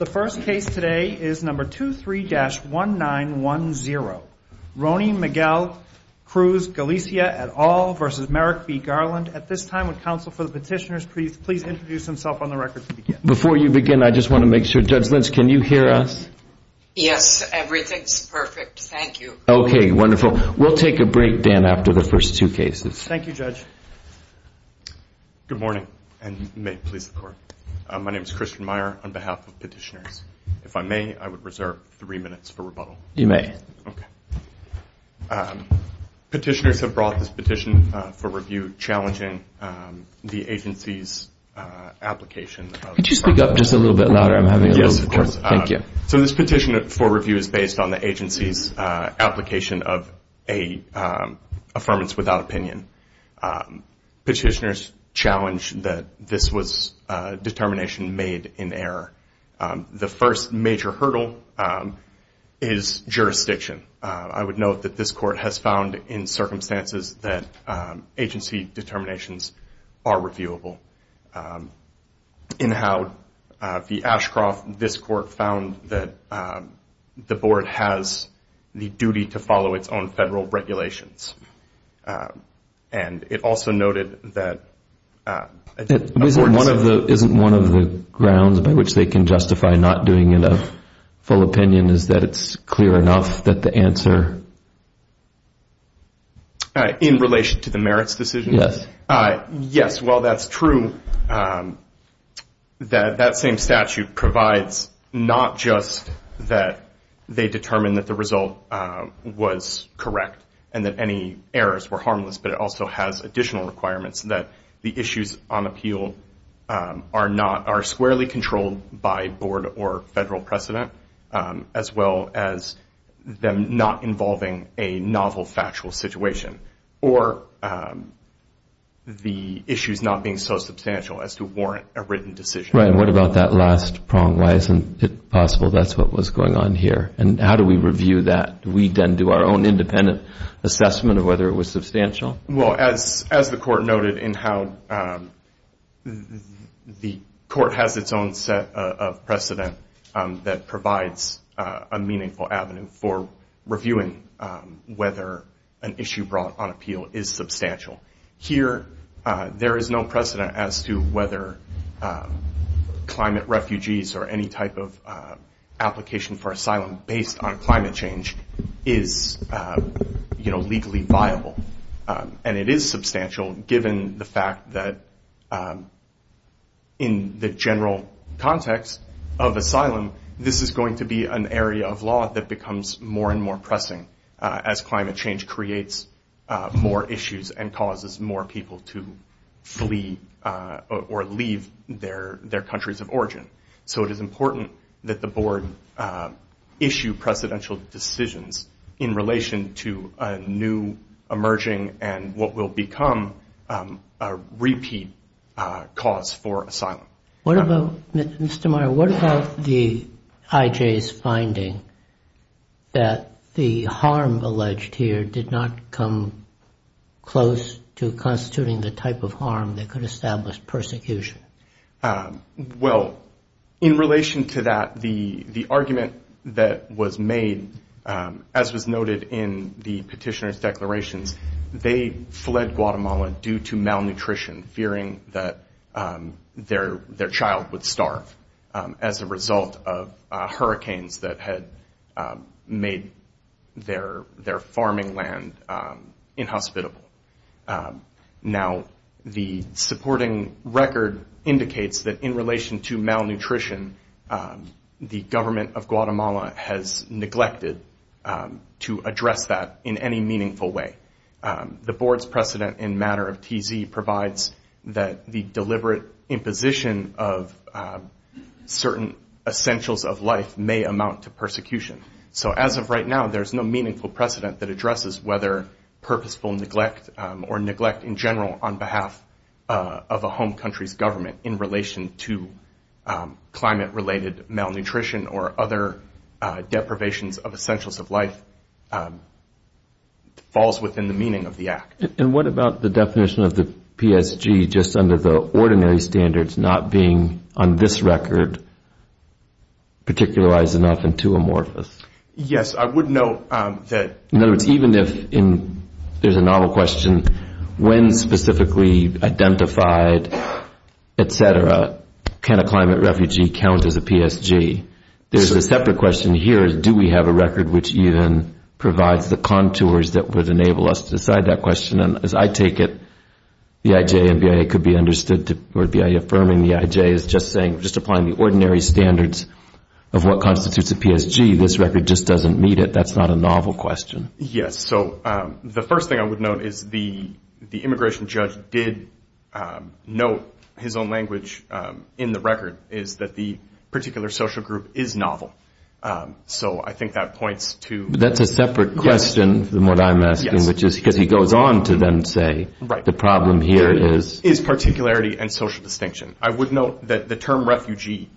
The first case today is number 23-1910, Rony Miguel Cruz Galicia et al. v. Merrick B. Garland. At this time, would counsel for the petitioners please introduce themselves on the record to begin? Before you begin, I just want to make sure, Judge Lynch, can you hear us? Yes, everything's perfect, thank you. Okay, wonderful. We'll take a break, Dan, after the first two cases. Thank you, Judge. Good morning, and may it please the Court. My name is Christian Meyer on behalf of petitioners. If I may, I would reserve three minutes for rebuttal. You may. Okay. Petitioners have brought this petition for review challenging the agency's application of… Could you speak up just a little bit louder? I'm having a little trouble. Yes, of course. Thank you. So this petition for review is based on the agency's application of a affirmance without opinion. Petitioners challenge that this was a determination made in error. The first major hurdle is jurisdiction. I would note that this Court has found in circumstances that agency determinations are reviewable. In how the Ashcroft, this Court found that the Board has the duty to follow its own federal regulations. And it also noted that… Isn't one of the grounds by which they can justify not doing a full opinion is that it's clear enough that the answer… In relation to the merits decision? Yes. Yes. Well, that's true. That same statute provides not just that they determined that the result was correct and that any errors were harmless, but it also has additional requirements that the issues on appeal are squarely controlled by Board or federal precedent as well as them not involving a novel factual situation or the issues not being so substantial as to warrant a written decision. Right. And what about that last prong? Why isn't it possible that's what was going on here? And how do we review that? Do we then do our own independent assessment of whether it was substantial? Well, as the Court noted in how the Court has its own set of precedent that provides a meaningful avenue for reviewing whether an issue brought on appeal is substantial. Here there is no precedent as to whether climate refugees or any type of application for asylum based on climate change is legally viable. And it is substantial given the fact that in the general context of asylum this is going to be an area of law that becomes more and more pressing as climate change creates more issues and causes more people to flee or leave their countries of origin. So it is important that the Board issue precedential decisions in relation to a new emerging and what will become a repeat cause for asylum. What about, Mr. Meyer, what about the IJ's finding that the harm alleged here did not come close to constituting the type of harm that could establish persecution? Well, in relation to that, the argument that was made, as was noted in the petitioner's report, was about malnutrition, fearing that their child would starve as a result of hurricanes that had made their farming land inhospitable. Now the supporting record indicates that in relation to malnutrition the government of Guatemala has neglected to address that in any meaningful way. The Board's precedent in matter of TZ provides that the deliberate imposition of certain essentials of life may amount to persecution. So as of right now there is no meaningful precedent that addresses whether purposeful neglect or neglect in general on behalf of a home country's government in relation to a refugee. And what about the definition of the PSG just under the ordinary standards not being, on this record, particularized enough and too amorphous? Yes, I would note that- In other words, even if there's a novel question, when specifically identified, etc., can a climate refugee count as a PSG? There's a separate question here, do we have a record which even provides the contours that would enable us to decide that question? And as I take it, the IJ and BIA could be understood to, or BIA affirming the IJ is just saying, just applying the ordinary standards of what constitutes a PSG, this record just doesn't meet it, that's not a novel question. Yes, so the first thing I would note is the immigration judge did note his own language in the record, is that the particular social group is novel. So I think that points to- That's a separate question from what I'm asking, which is, because he goes on to then say, the problem here is- Is particularity and social distinction. I would note that the term refugee,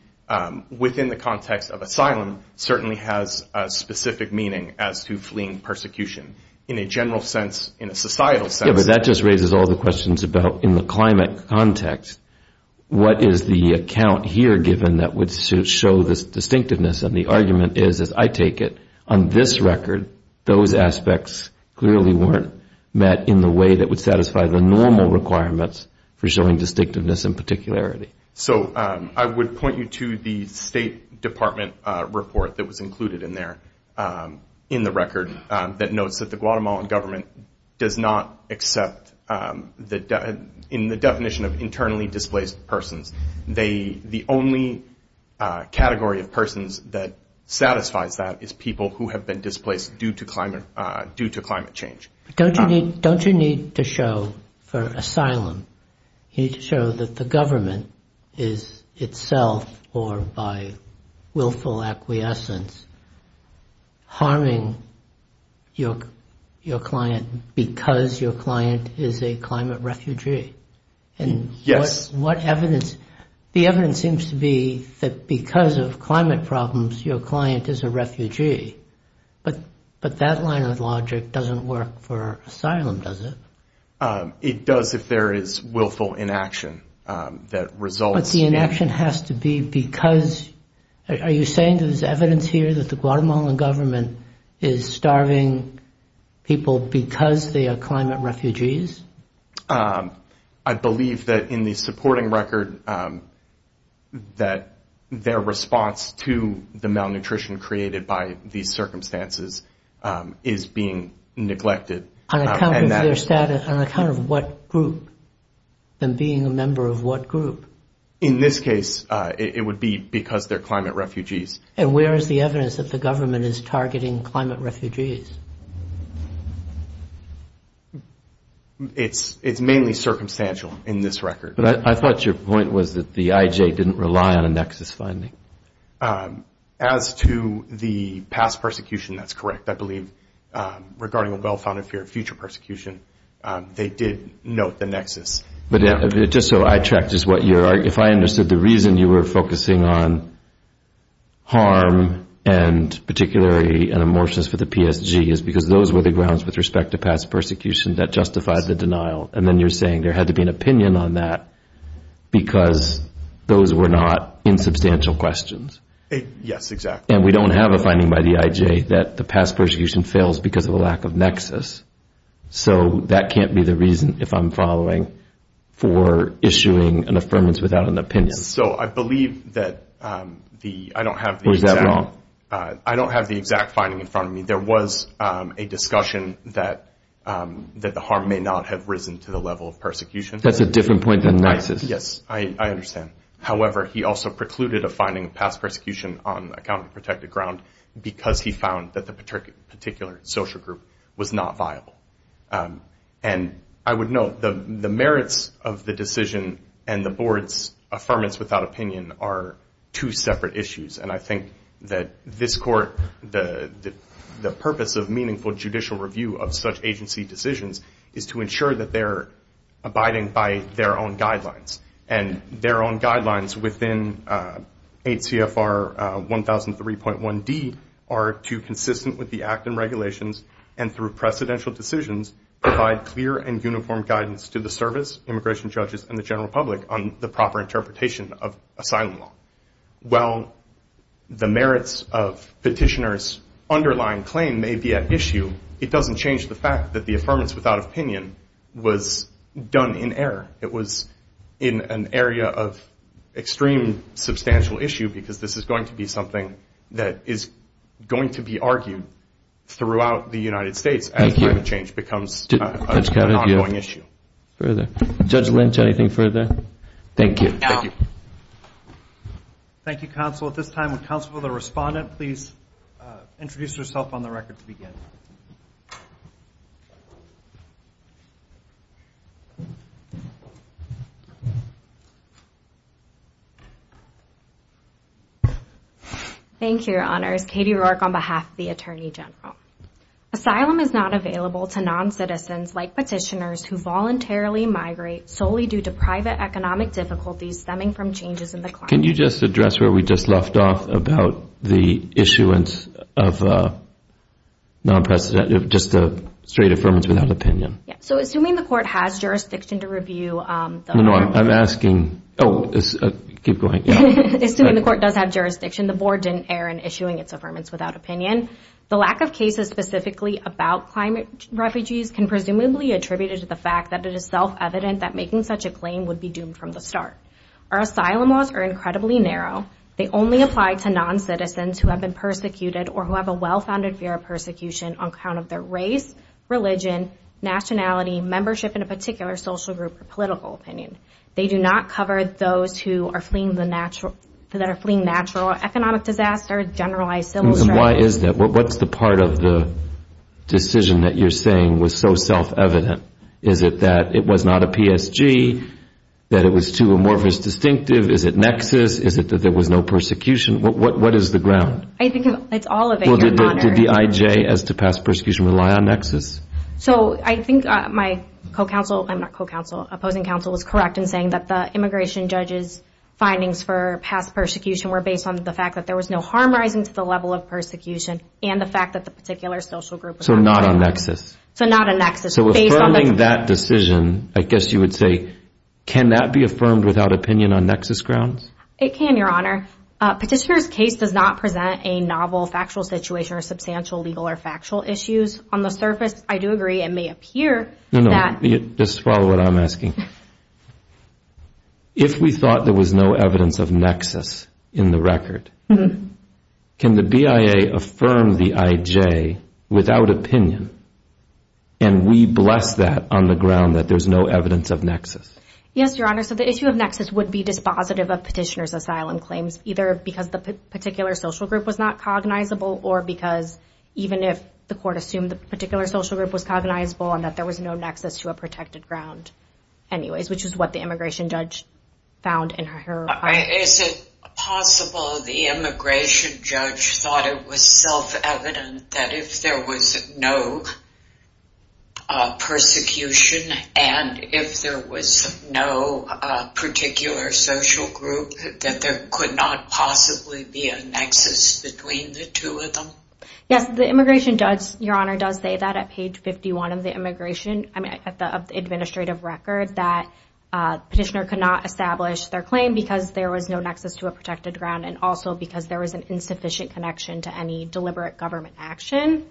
within the context of asylum, certainly has a specific meaning as to fleeing persecution. In a general sense, in a societal sense- Yeah, but that just raises all the questions about, in the climate context, what is the account here given that would show this distinctiveness? And the argument is, as I take it, on this record, those aspects clearly weren't met in the way that would satisfy the normal requirements for showing distinctiveness and particularity. So I would point you to the State Department report that was included in there, in the record, that notes that the Guatemalan government does not accept, in the definition of internally that satisfies that, is people who have been displaced due to climate change. Don't you need to show, for asylum, you need to show that the government is itself, or by willful acquiescence, harming your client because your client is a climate refugee? Yes. The evidence seems to be that because of climate problems, your client is a refugee, but that line of logic doesn't work for asylum, does it? It does if there is willful inaction that results- But the inaction has to be because, are you saying there's evidence here that the Guatemalan government is starving people because they are climate refugees? I believe that in the supporting record that their response to the malnutrition created by these circumstances is being neglected. On account of their status, on account of what group, them being a member of what group? In this case, it would be because they're climate refugees. And where is the evidence that the government is targeting climate refugees? It's mainly circumstantial in this record. But I thought your point was that the IJ didn't rely on a nexus finding. As to the past persecution, that's correct. I believe, regarding a well-founded fear of future persecution, they did note the nexus. But just so I track just what you're arguing, if I understood the reason you were focusing on harm, and particularly an amorphous for the PSG, is because those were the grounds with respect to past persecution that justified the denial. And then you're saying there had to be an opinion on that because those were not insubstantial questions. Yes, exactly. And we don't have a finding by the IJ that the past persecution fails because of a lack of nexus. So that can't be the reason, if I'm following, for issuing an affirmance without an opinion. So I believe that I don't have the exact finding in front of me. There was a discussion that the harm may not have risen to the level of persecution. That's a different point than nexus. Yes, I understand. However, he also precluded a finding of past persecution on account of protected ground because he found that the particular social group was not viable. And I would note the merits of the decision and the Board's affirmance without opinion are two separate issues. And I think that this Court, the purpose of meaningful judicial review of such agency decisions is to ensure that they're abiding by their own guidelines. And their own guidelines within 8 CFR 1003.1D are to consistent with the Act and regulations and through precedential decisions provide clear and uniform guidance to the service, immigration judges, and the general public on the proper interpretation of asylum law. While the merits of petitioner's underlying claim may be at issue, it doesn't change the fact that the affirmance without opinion was done in error. It was in an area of extreme substantial issue because this is going to be something that is going to be argued throughout the United States as climate change becomes an ongoing issue. Further? Judge Lynch, anything further? Thank you. Thank you. Thank you, Counsel. At this time, would Counsel for the Respondent please introduce herself on the record to begin? Thank you, Your Honors. Katie Rourke on behalf of the Attorney General. Asylum is not available to non-citizens like petitioners who voluntarily migrate solely due to private economic difficulties stemming from changes in the climate. Can you just address where we just left off about the issuance of a non-precedented, just a straight affirmance without opinion? Yeah. So assuming the Court has jurisdiction to review the... No, no. I'm asking... Oh, keep going. Assuming the Court does have jurisdiction, the Board didn't err in issuing its affirmance without opinion. The lack of cases specifically about climate refugees can presumably attributed to the fact that it is self-evident that making such a claim would be doomed from the start. Our asylum laws are incredibly narrow. They only apply to non-citizens who have been persecuted or who have a well-founded fear of persecution on account of their race, religion, nationality, membership in a particular social group, or political opinion. They do not cover those who are fleeing natural economic disaster, generalized civil strife. And why is that? What's the part of the decision that you're saying was so self-evident? Is it that it was not a PSG, that it was too amorphous distinctive? Is it nexus? Is it that there was no persecution? What is the ground? I think it's all of it, Your Honor. Well, did the IJ as to past persecution rely on nexus? So I think my co-counsel, I'm not co-counsel, opposing counsel is correct in saying that the immigration judge's findings for past persecution were based on the fact that there was no harm rising to the level of persecution and the fact that the particular social group was not a nexus. So not a nexus. So not a nexus. So affirming that decision, I guess you would say, can that be affirmed without opinion on nexus grounds? It can, Your Honor. On the surface, I do agree. It may appear that. No, no. Just follow what I'm asking. If we thought there was no evidence of nexus in the record, can the BIA affirm the IJ without opinion, and we bless that on the ground that there's no evidence of nexus? Yes, Your Honor. So the issue of nexus would be dispositive of petitioner's asylum claims, either because the particular social group was not cognizable or because even if the court assumed the particular social group was cognizable and that there was no nexus to a protected ground anyways, which is what the immigration judge found in her findings. Is it possible the immigration judge thought it was self-evident that if there was no persecution and if there was no particular social group, that there could not possibly be a nexus between the two of them? Yes, the immigration judge, Your Honor, does say that at page 51 of the immigration, of the administrative record, that petitioner could not establish their claim because there was no nexus to a protected ground and also because there was an insufficient connection to any deliberate government action.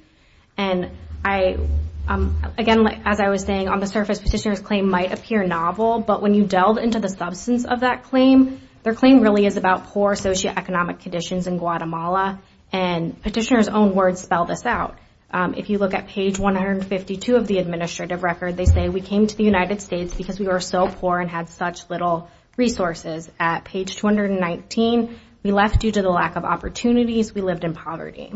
And again, as I was saying, on the surface, petitioner's claim might appear novel, but when you delve into the substance of that claim, their claim really is about poor socioeconomic conditions in Guatemala and petitioner's own words spell this out. If you look at page 152 of the administrative record, they say, we came to the United States because we were so poor and had such little resources. At page 219, we left due to the lack of opportunities. We lived in poverty.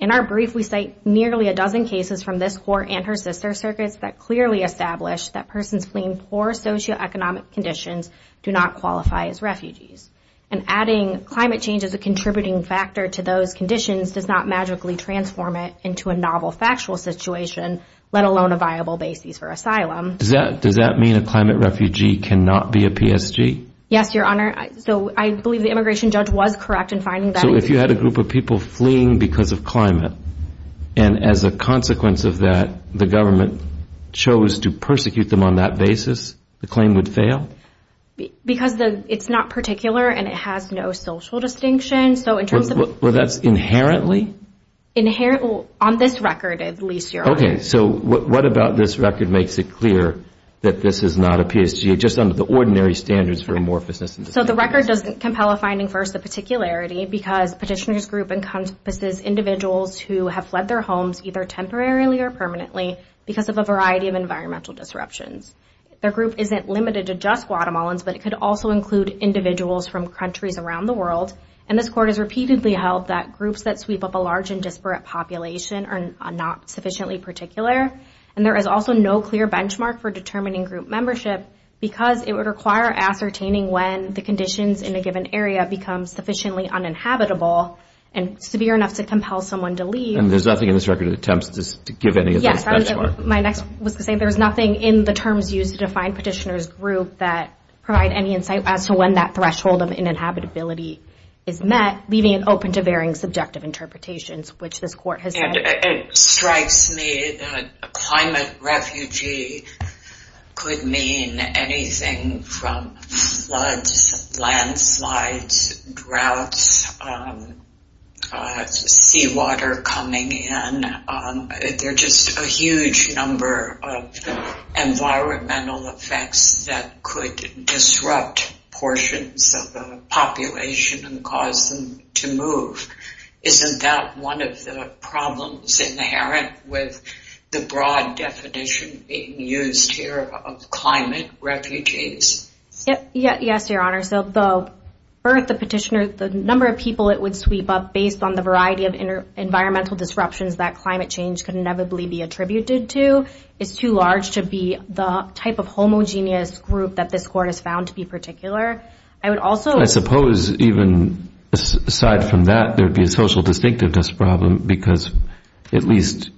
In our brief, we cite nearly a dozen cases from this court and her sister's circuits that clearly establish that persons fleeing poor socioeconomic conditions do not qualify as refugees. And adding climate change as a contributing factor to those conditions does not magically transform it into a novel factual situation, let alone a viable basis for asylum. Does that mean a climate refugee cannot be a PSG? Yes, Your Honor. So I believe the immigration judge was correct in finding that. So if you had a group of people fleeing because of climate and as a consequence of that, the government chose to persecute them on that basis, the claim would fail? Because it's not particular and it has no social distinction. Well, that's inherently? On this record, at least, Your Honor. Okay. So what about this record makes it clear that this is not a PSG just under the ordinary standards for amorphousness? So the record doesn't compel a finding for the particularity because petitioner's group encompasses individuals who have fled their homes either temporarily or permanently because of a variety of environmental disruptions. Their group isn't limited to just Guatemalans, but it could also include individuals from countries around the world. And this court has repeatedly held that groups that sweep up a large and disparate population are not sufficiently particular. And there is also no clear benchmark for determining group membership because it would require ascertaining when the conditions in a given area become sufficiently uninhabitable and severe enough to compel someone to leave. And there's nothing in this record that attempts to give any of those benchmarks? Yes. My next was to say there's nothing in the terms used to define petitioner's group that provide any insight as to when that threshold of ininhabitability is met, leaving it open to varying subjective interpretations, which this court has said. And it strikes me that a climate refugee could mean anything from floods, landslides, droughts, seawater coming in. There are just a huge number of environmental effects that could disrupt portions of the population and cause them to move. Isn't that one of the problems inherent with the broad definition being used here of climate refugees? Yes, Your Honor. So the number of people it would sweep up based on the variety of environmental disruptions that climate change could inevitably be attributed to is too large to be the type of homogeneous group that this court has found to be particular. I suppose even aside from that, there would be a social distinctiveness problem because at least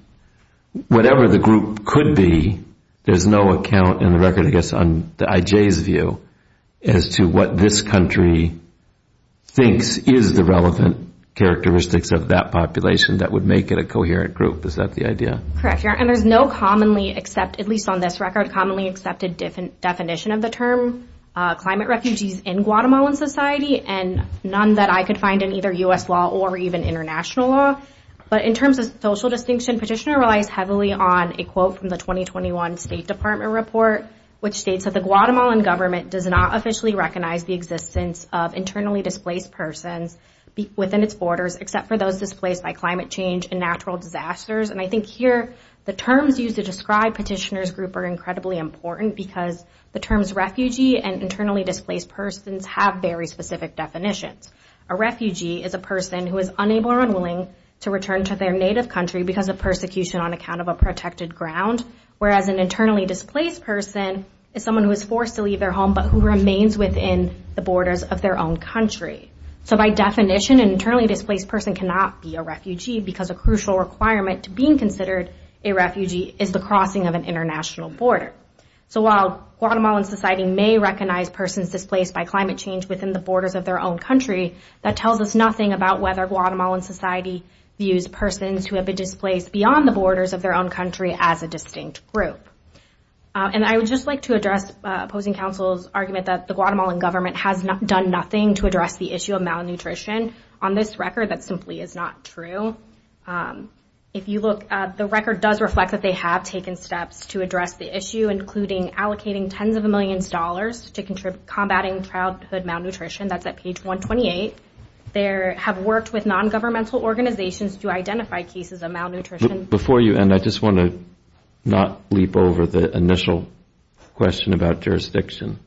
whatever the group could be, there's no account in the record, I guess, on the IJ's view as to what this country thinks is the relevant characteristics of that population that would make it a coherent group. Is that the idea? Correct, Your Honor. And there's no commonly accepted, at least on this record, commonly accepted definition of the term climate refugees in Guatemalan society and none that I could find in either U.S. law or even international law. But in terms of social distinction, Petitioner relies heavily on a quote from the 2021 State Department report, which states that the Guatemalan government does not officially recognize the existence of internally displaced persons within its borders except for those displaced by climate change and natural disasters. And I think here the terms used to describe Petitioner's group are incredibly important because the terms refugee and internally displaced persons have very specific definitions. A refugee is a person who is unable or unwilling to return to their native country because of persecution on account of a protected ground, whereas an internally displaced person is someone who is forced to leave their home but who remains within the borders of their own country. So by definition, an internally displaced person cannot be a refugee because a crucial requirement to being considered a refugee is the crossing of an international border. So while Guatemalan society may recognize persons displaced by climate change within the borders of their own country, that tells us nothing about whether Guatemalan society views persons who have been displaced beyond the borders of their own country as a distinct group. And I would just like to address opposing counsel's argument that the Guatemalan government has done nothing to address the issue of malnutrition. On this record, that simply is not true. The record does reflect that they have taken steps to address the issue, including allocating tens of millions of dollars to combatting childhood malnutrition. That's at page 128. They have worked with nongovernmental organizations to identify cases of malnutrition. Before you end, I just want to not leap over the initial question about jurisdiction.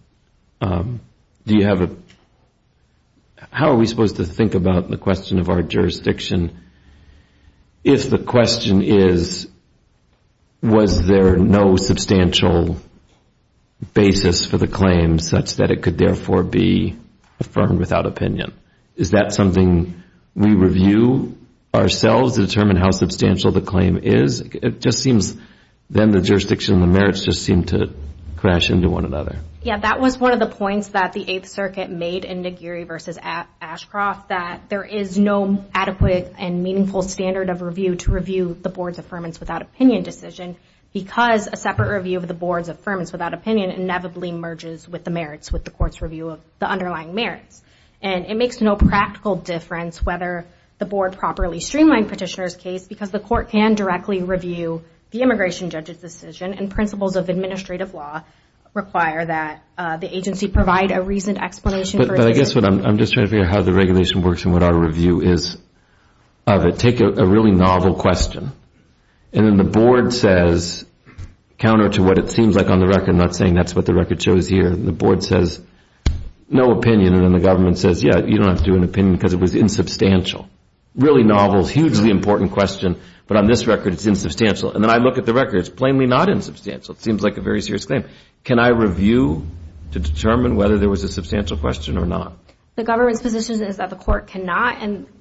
Do you have a... How are we supposed to think about the question of our jurisdiction if the question is was there no substantial basis for the claim such that it could therefore be affirmed without opinion? Is that something we review ourselves to determine how substantial the claim is? It just seems then the jurisdiction and the merits just seem to crash into one another. Yeah, that was one of the points that the 8th Circuit made in Nagiri v. Ashcroft that there is no adequate and meaningful standard of review to review the Board's Affirmance Without Opinion decision because a separate review of the Board's Affirmance Without Opinion inevitably merges with the merits with the Court's review of the underlying merits. It makes no practical difference whether the Board properly streamlined Petitioner's case because the Court can directly review the immigration judge's decision and principles of administrative law require that the agency provide a reasoned explanation for its... But I guess what I'm just trying to figure out how the regulation works and what our review is of it. Take a really novel question and then the Board says, counter to what it seems like on the record, I'm not saying that's what the record shows here. The Board says no opinion and then the government says yeah, you don't have to do an opinion because it was insubstantial. Really novel, hugely important question, but on this record it's insubstantial. And then I look at the record, it's plainly not insubstantial. It seems like a very serious claim. Can I review to determine whether there was a substantial question or not? The government's position is that the BIA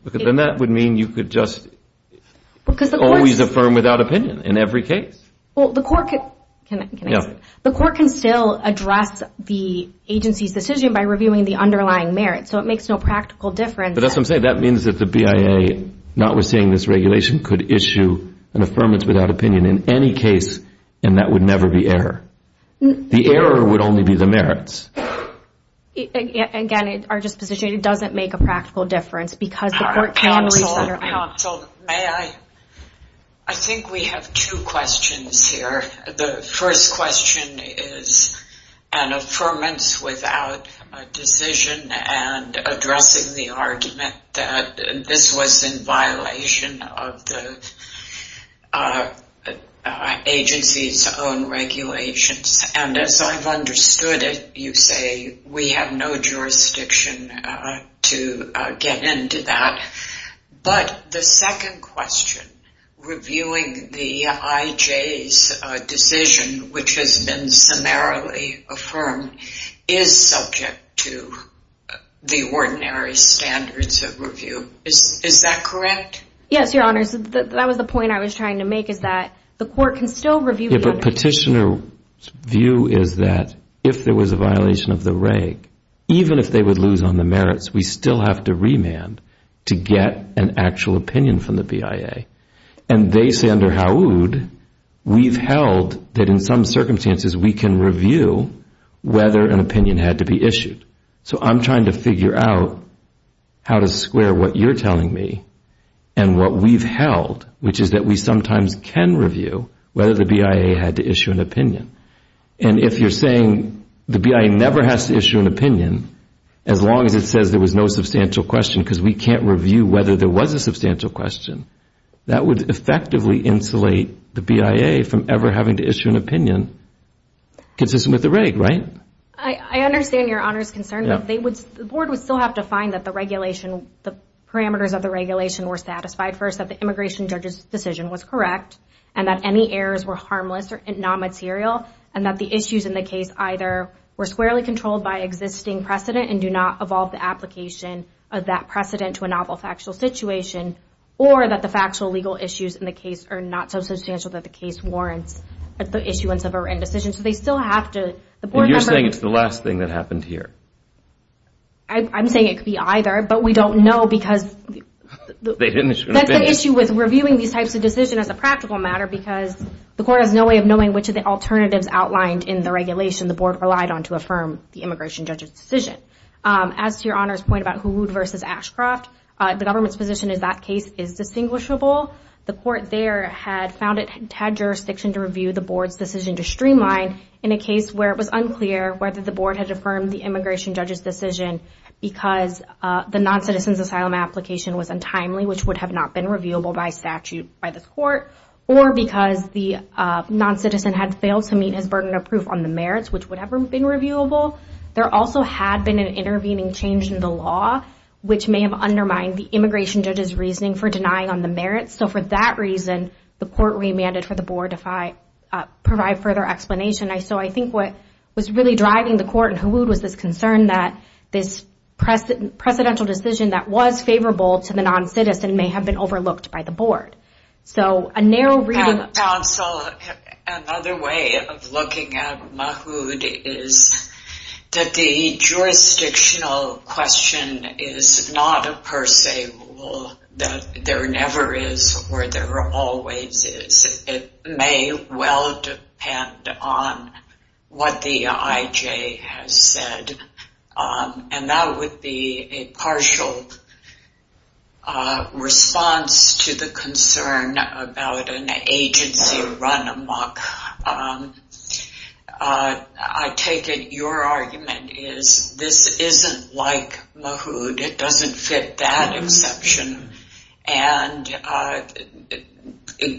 doesn't mean you could just always affirm without opinion in every case. The Court can still address the agency's decision by reviewing the underlying merits so it makes no practical difference. That means that the BIA not receiving this regulation could issue an affirmance without opinion in any case and that would never be error. The error would only be the merits. Again, our disposition doesn't make a difference. I think we have two questions here. The first question is an affirmance without a decision and addressing the argument that this was in violation of the agency's own regulations. And as I've understood it, you say we have no jurisdiction to get into that, but the second question, reviewing the IJ's decision, which has been summarily affirmed, is subject to the ordinary standards of review. Is that correct? Yes, Your Honor. That was the point I was trying to make, is that the Court can still review. If a petitioner's view is that if there was a violation of the reg, even if they would lose on to get an actual opinion from the BIA, and they say under Haoud we've held that in some circumstances we can review whether an opinion had to be issued. So I'm trying to figure out how to square what you're telling me and what we've held, which is that we sometimes can review whether the BIA had to issue an opinion. And if you're saying the BIA never has to issue an opinion as long as it says there was no substantial question, because we can't review whether there was a substantial question, that would effectively insulate the BIA from ever having to issue an opinion consistent with the reg, right? I understand Your Honor's concern, but the Board would still have to find that the regulation, the parameters of the regulation were satisfied first, that the immigration judge's decision was correct, and that any errors were harmless or non-material, and that the issues in the case either were squarely controlled by existing precedent and do not evolve the application of that precedent to a novel factual situation, or that the factual legal issues in the case are not so substantial that the case warrants the issuance of an indecision. So they still have to... And you're saying it's the last thing that happened here? I'm saying it could be either, but we don't know because that's the issue with reviewing these types of decisions as a practical matter because the Court has no way of knowing which of the alternatives outlined in the immigration judge's decision. As to Your Honor's point about Hood v. Ashcroft, the government's position is that case is distinguishable. The Court there had found it had jurisdiction to review the Board's decision to streamline in a case where it was unclear whether the Board had affirmed the immigration judge's decision because the non-citizen's asylum application was untimely, which would have not been reviewable by statute by this Court, or because the non-citizen had failed to meet his burden of proof on the merits, which would have been reviewable. There also had been an intervening change in the law, which may have undermined the immigration judge's reasoning for denying on the merits. So for that reason, the Court remanded for the Board to provide further explanation. So I think what was really driving the Court in Hood was this concern that this presidential decision that was favorable to the non-citizen may have been overlooked by the Board. So a narrow reading... Counsel, another way of looking at Mahmood is that the jurisdictional question is not a per se rule that there never is or there always is. It may well depend on what the IJ has said, and that would be a partial response to the concern about an agency run amok. I take it your argument is this isn't like Mahmood. It doesn't fit that exception, and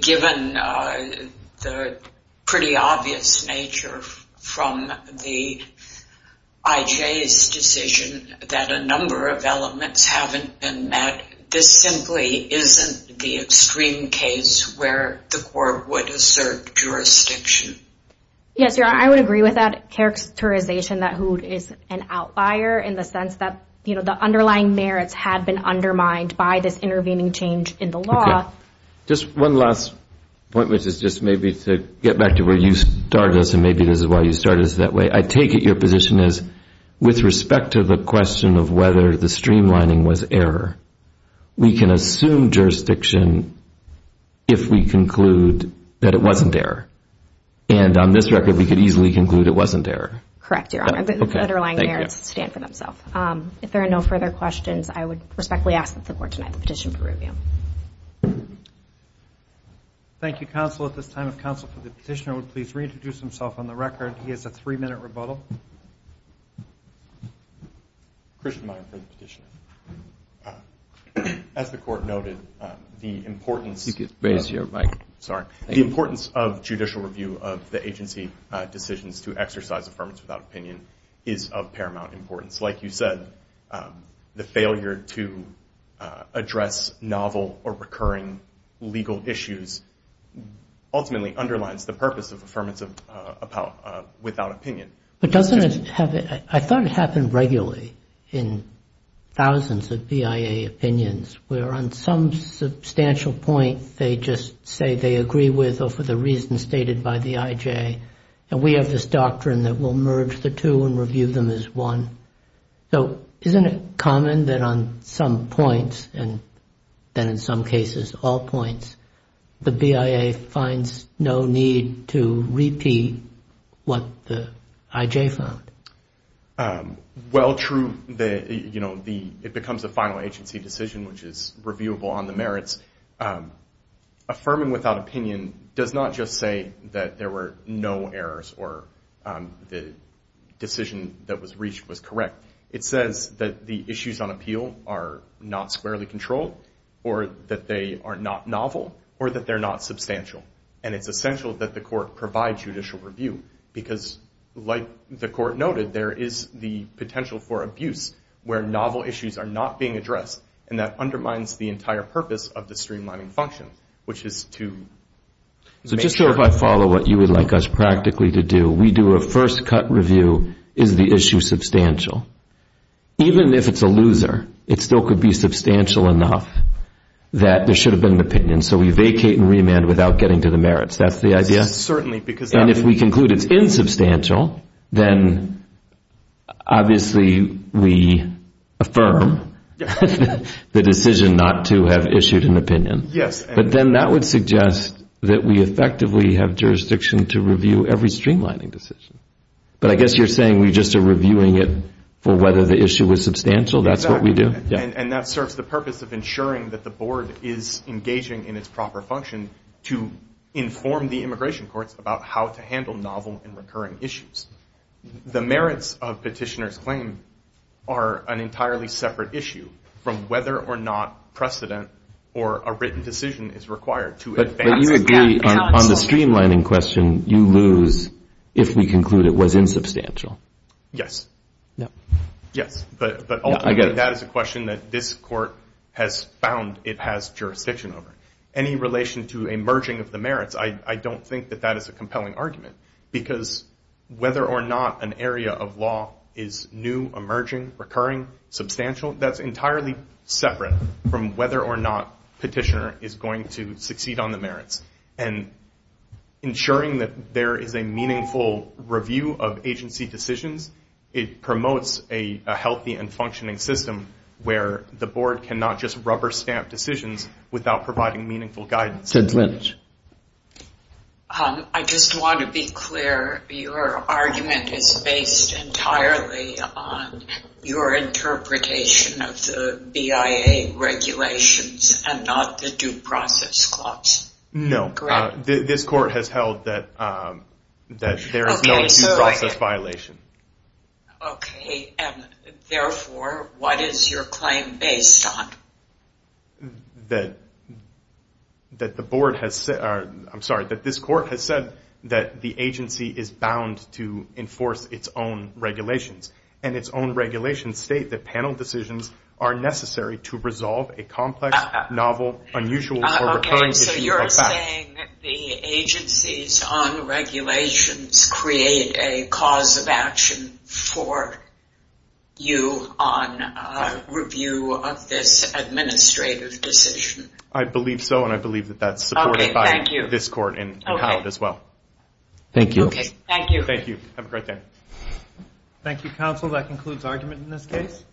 given the pretty obvious nature from the IJ's decision that a number of elements haven't been met, this simply isn't the extreme case where the Court would assert jurisdiction. Yes, Your Honor, I would agree with that characterization that Hood is an outlier in the sense that the underlying merits have been undermined by this intervening change in the law. Just one last point, which is just maybe to get back to where you started us, and maybe this is why you started us that way. I take it your position is, with respect to the question of whether the streamlining was error, we can assume jurisdiction if we conclude that it wasn't error. And on this record, we could easily conclude it wasn't error. Correct, Your Honor. The underlying merits stand for themselves. If there are no further questions, I would respectfully ask that the Court deny the petition for review. Thank you, Counsel. At this time, if Counsel for the Petitioner would please reintroduce himself on the record. He has a three-minute rebuttal. Christian Meyer As the Court noted, the importance of judicial review of the agency decisions to exercise Affirmative Without Opinion is of paramount importance. Like you said, the failure to address novel or recurring legal issues ultimately underlines the purpose of Affirmative Without Opinion. I thought it happened regularly in thousands of BIA opinions where on some substantial point they just say they agree with or for the reasons stated by the IJ and we have this doctrine that will merge the two and review them as one. So, isn't it common that on some points and then in some cases all points, the BIA finds no need to repeat what the IJ found? Well true, it becomes a final agency decision which is reviewable on the merits. Affirming Without Opinion does not just say that there were no errors or the decision that was reached was correct. It says that the issues on appeal are not squarely controlled or that they are not novel or that they're not substantial. And it's essential that the Court provide judicial review because like the Court noted, there is the potential for abuse where novel issues are not being addressed and that undermines the entire purpose of the streamlining function which is to make sure. So just to follow what you would like us practically to do, we do a first cut review, is the issue substantial? Even if it's a loser, it still could be substantial enough that there should have been an opinion. So we vacate and remand without getting to the merits. That's the idea? Certainly. And if we conclude it's insubstantial, then obviously we affirm the decision not to have issued an opinion. Yes. But then that would suggest that we effectively have jurisdiction to review every streamlining decision. But I guess you're saying we just are reviewing it for whether the issue was substantial? That's what we do? Exactly. And that serves the purpose of ensuring that the Board is engaging in its proper function to inform the immigration courts about how to handle novel and recurring issues. The merits of petitioner's claim are an entirely separate issue from whether or not precedent or a written decision is required to advance. But you agree on the streamlining question, you lose if we conclude it was insubstantial. Yes. Yes. But ultimately that is a question that this court has found it has to a merging of the merits. I don't think that that is a compelling argument. Because whether or not an area of law is new, emerging, recurring, substantial, that's entirely separate from whether or not petitioner is going to succeed on the merits. And ensuring that there is a meaningful review of agency decisions, it promotes a healthy and functioning system where the Board cannot just rubber stamp decisions without providing meaningful guidance. I just want to be clear your argument is based entirely on your interpretation of the BIA regulations and not the due process clause. No. This court has held that there is no due process violation. Okay, and therefore what is your claim based on? That the Board has I'm sorry, that this court has said that the agency is bound to enforce its own regulations. And its own regulations state that panel decisions are necessary to resolve a complex novel, unusual, or recurring issue like that. Okay, so you're saying the agencies on regulations create a cause of action for you on review of this administrative decision. I believe so, and I believe that's supported by this court and how as well. Thank you. Have a great day. Thank you counsel, that concludes argument in this case.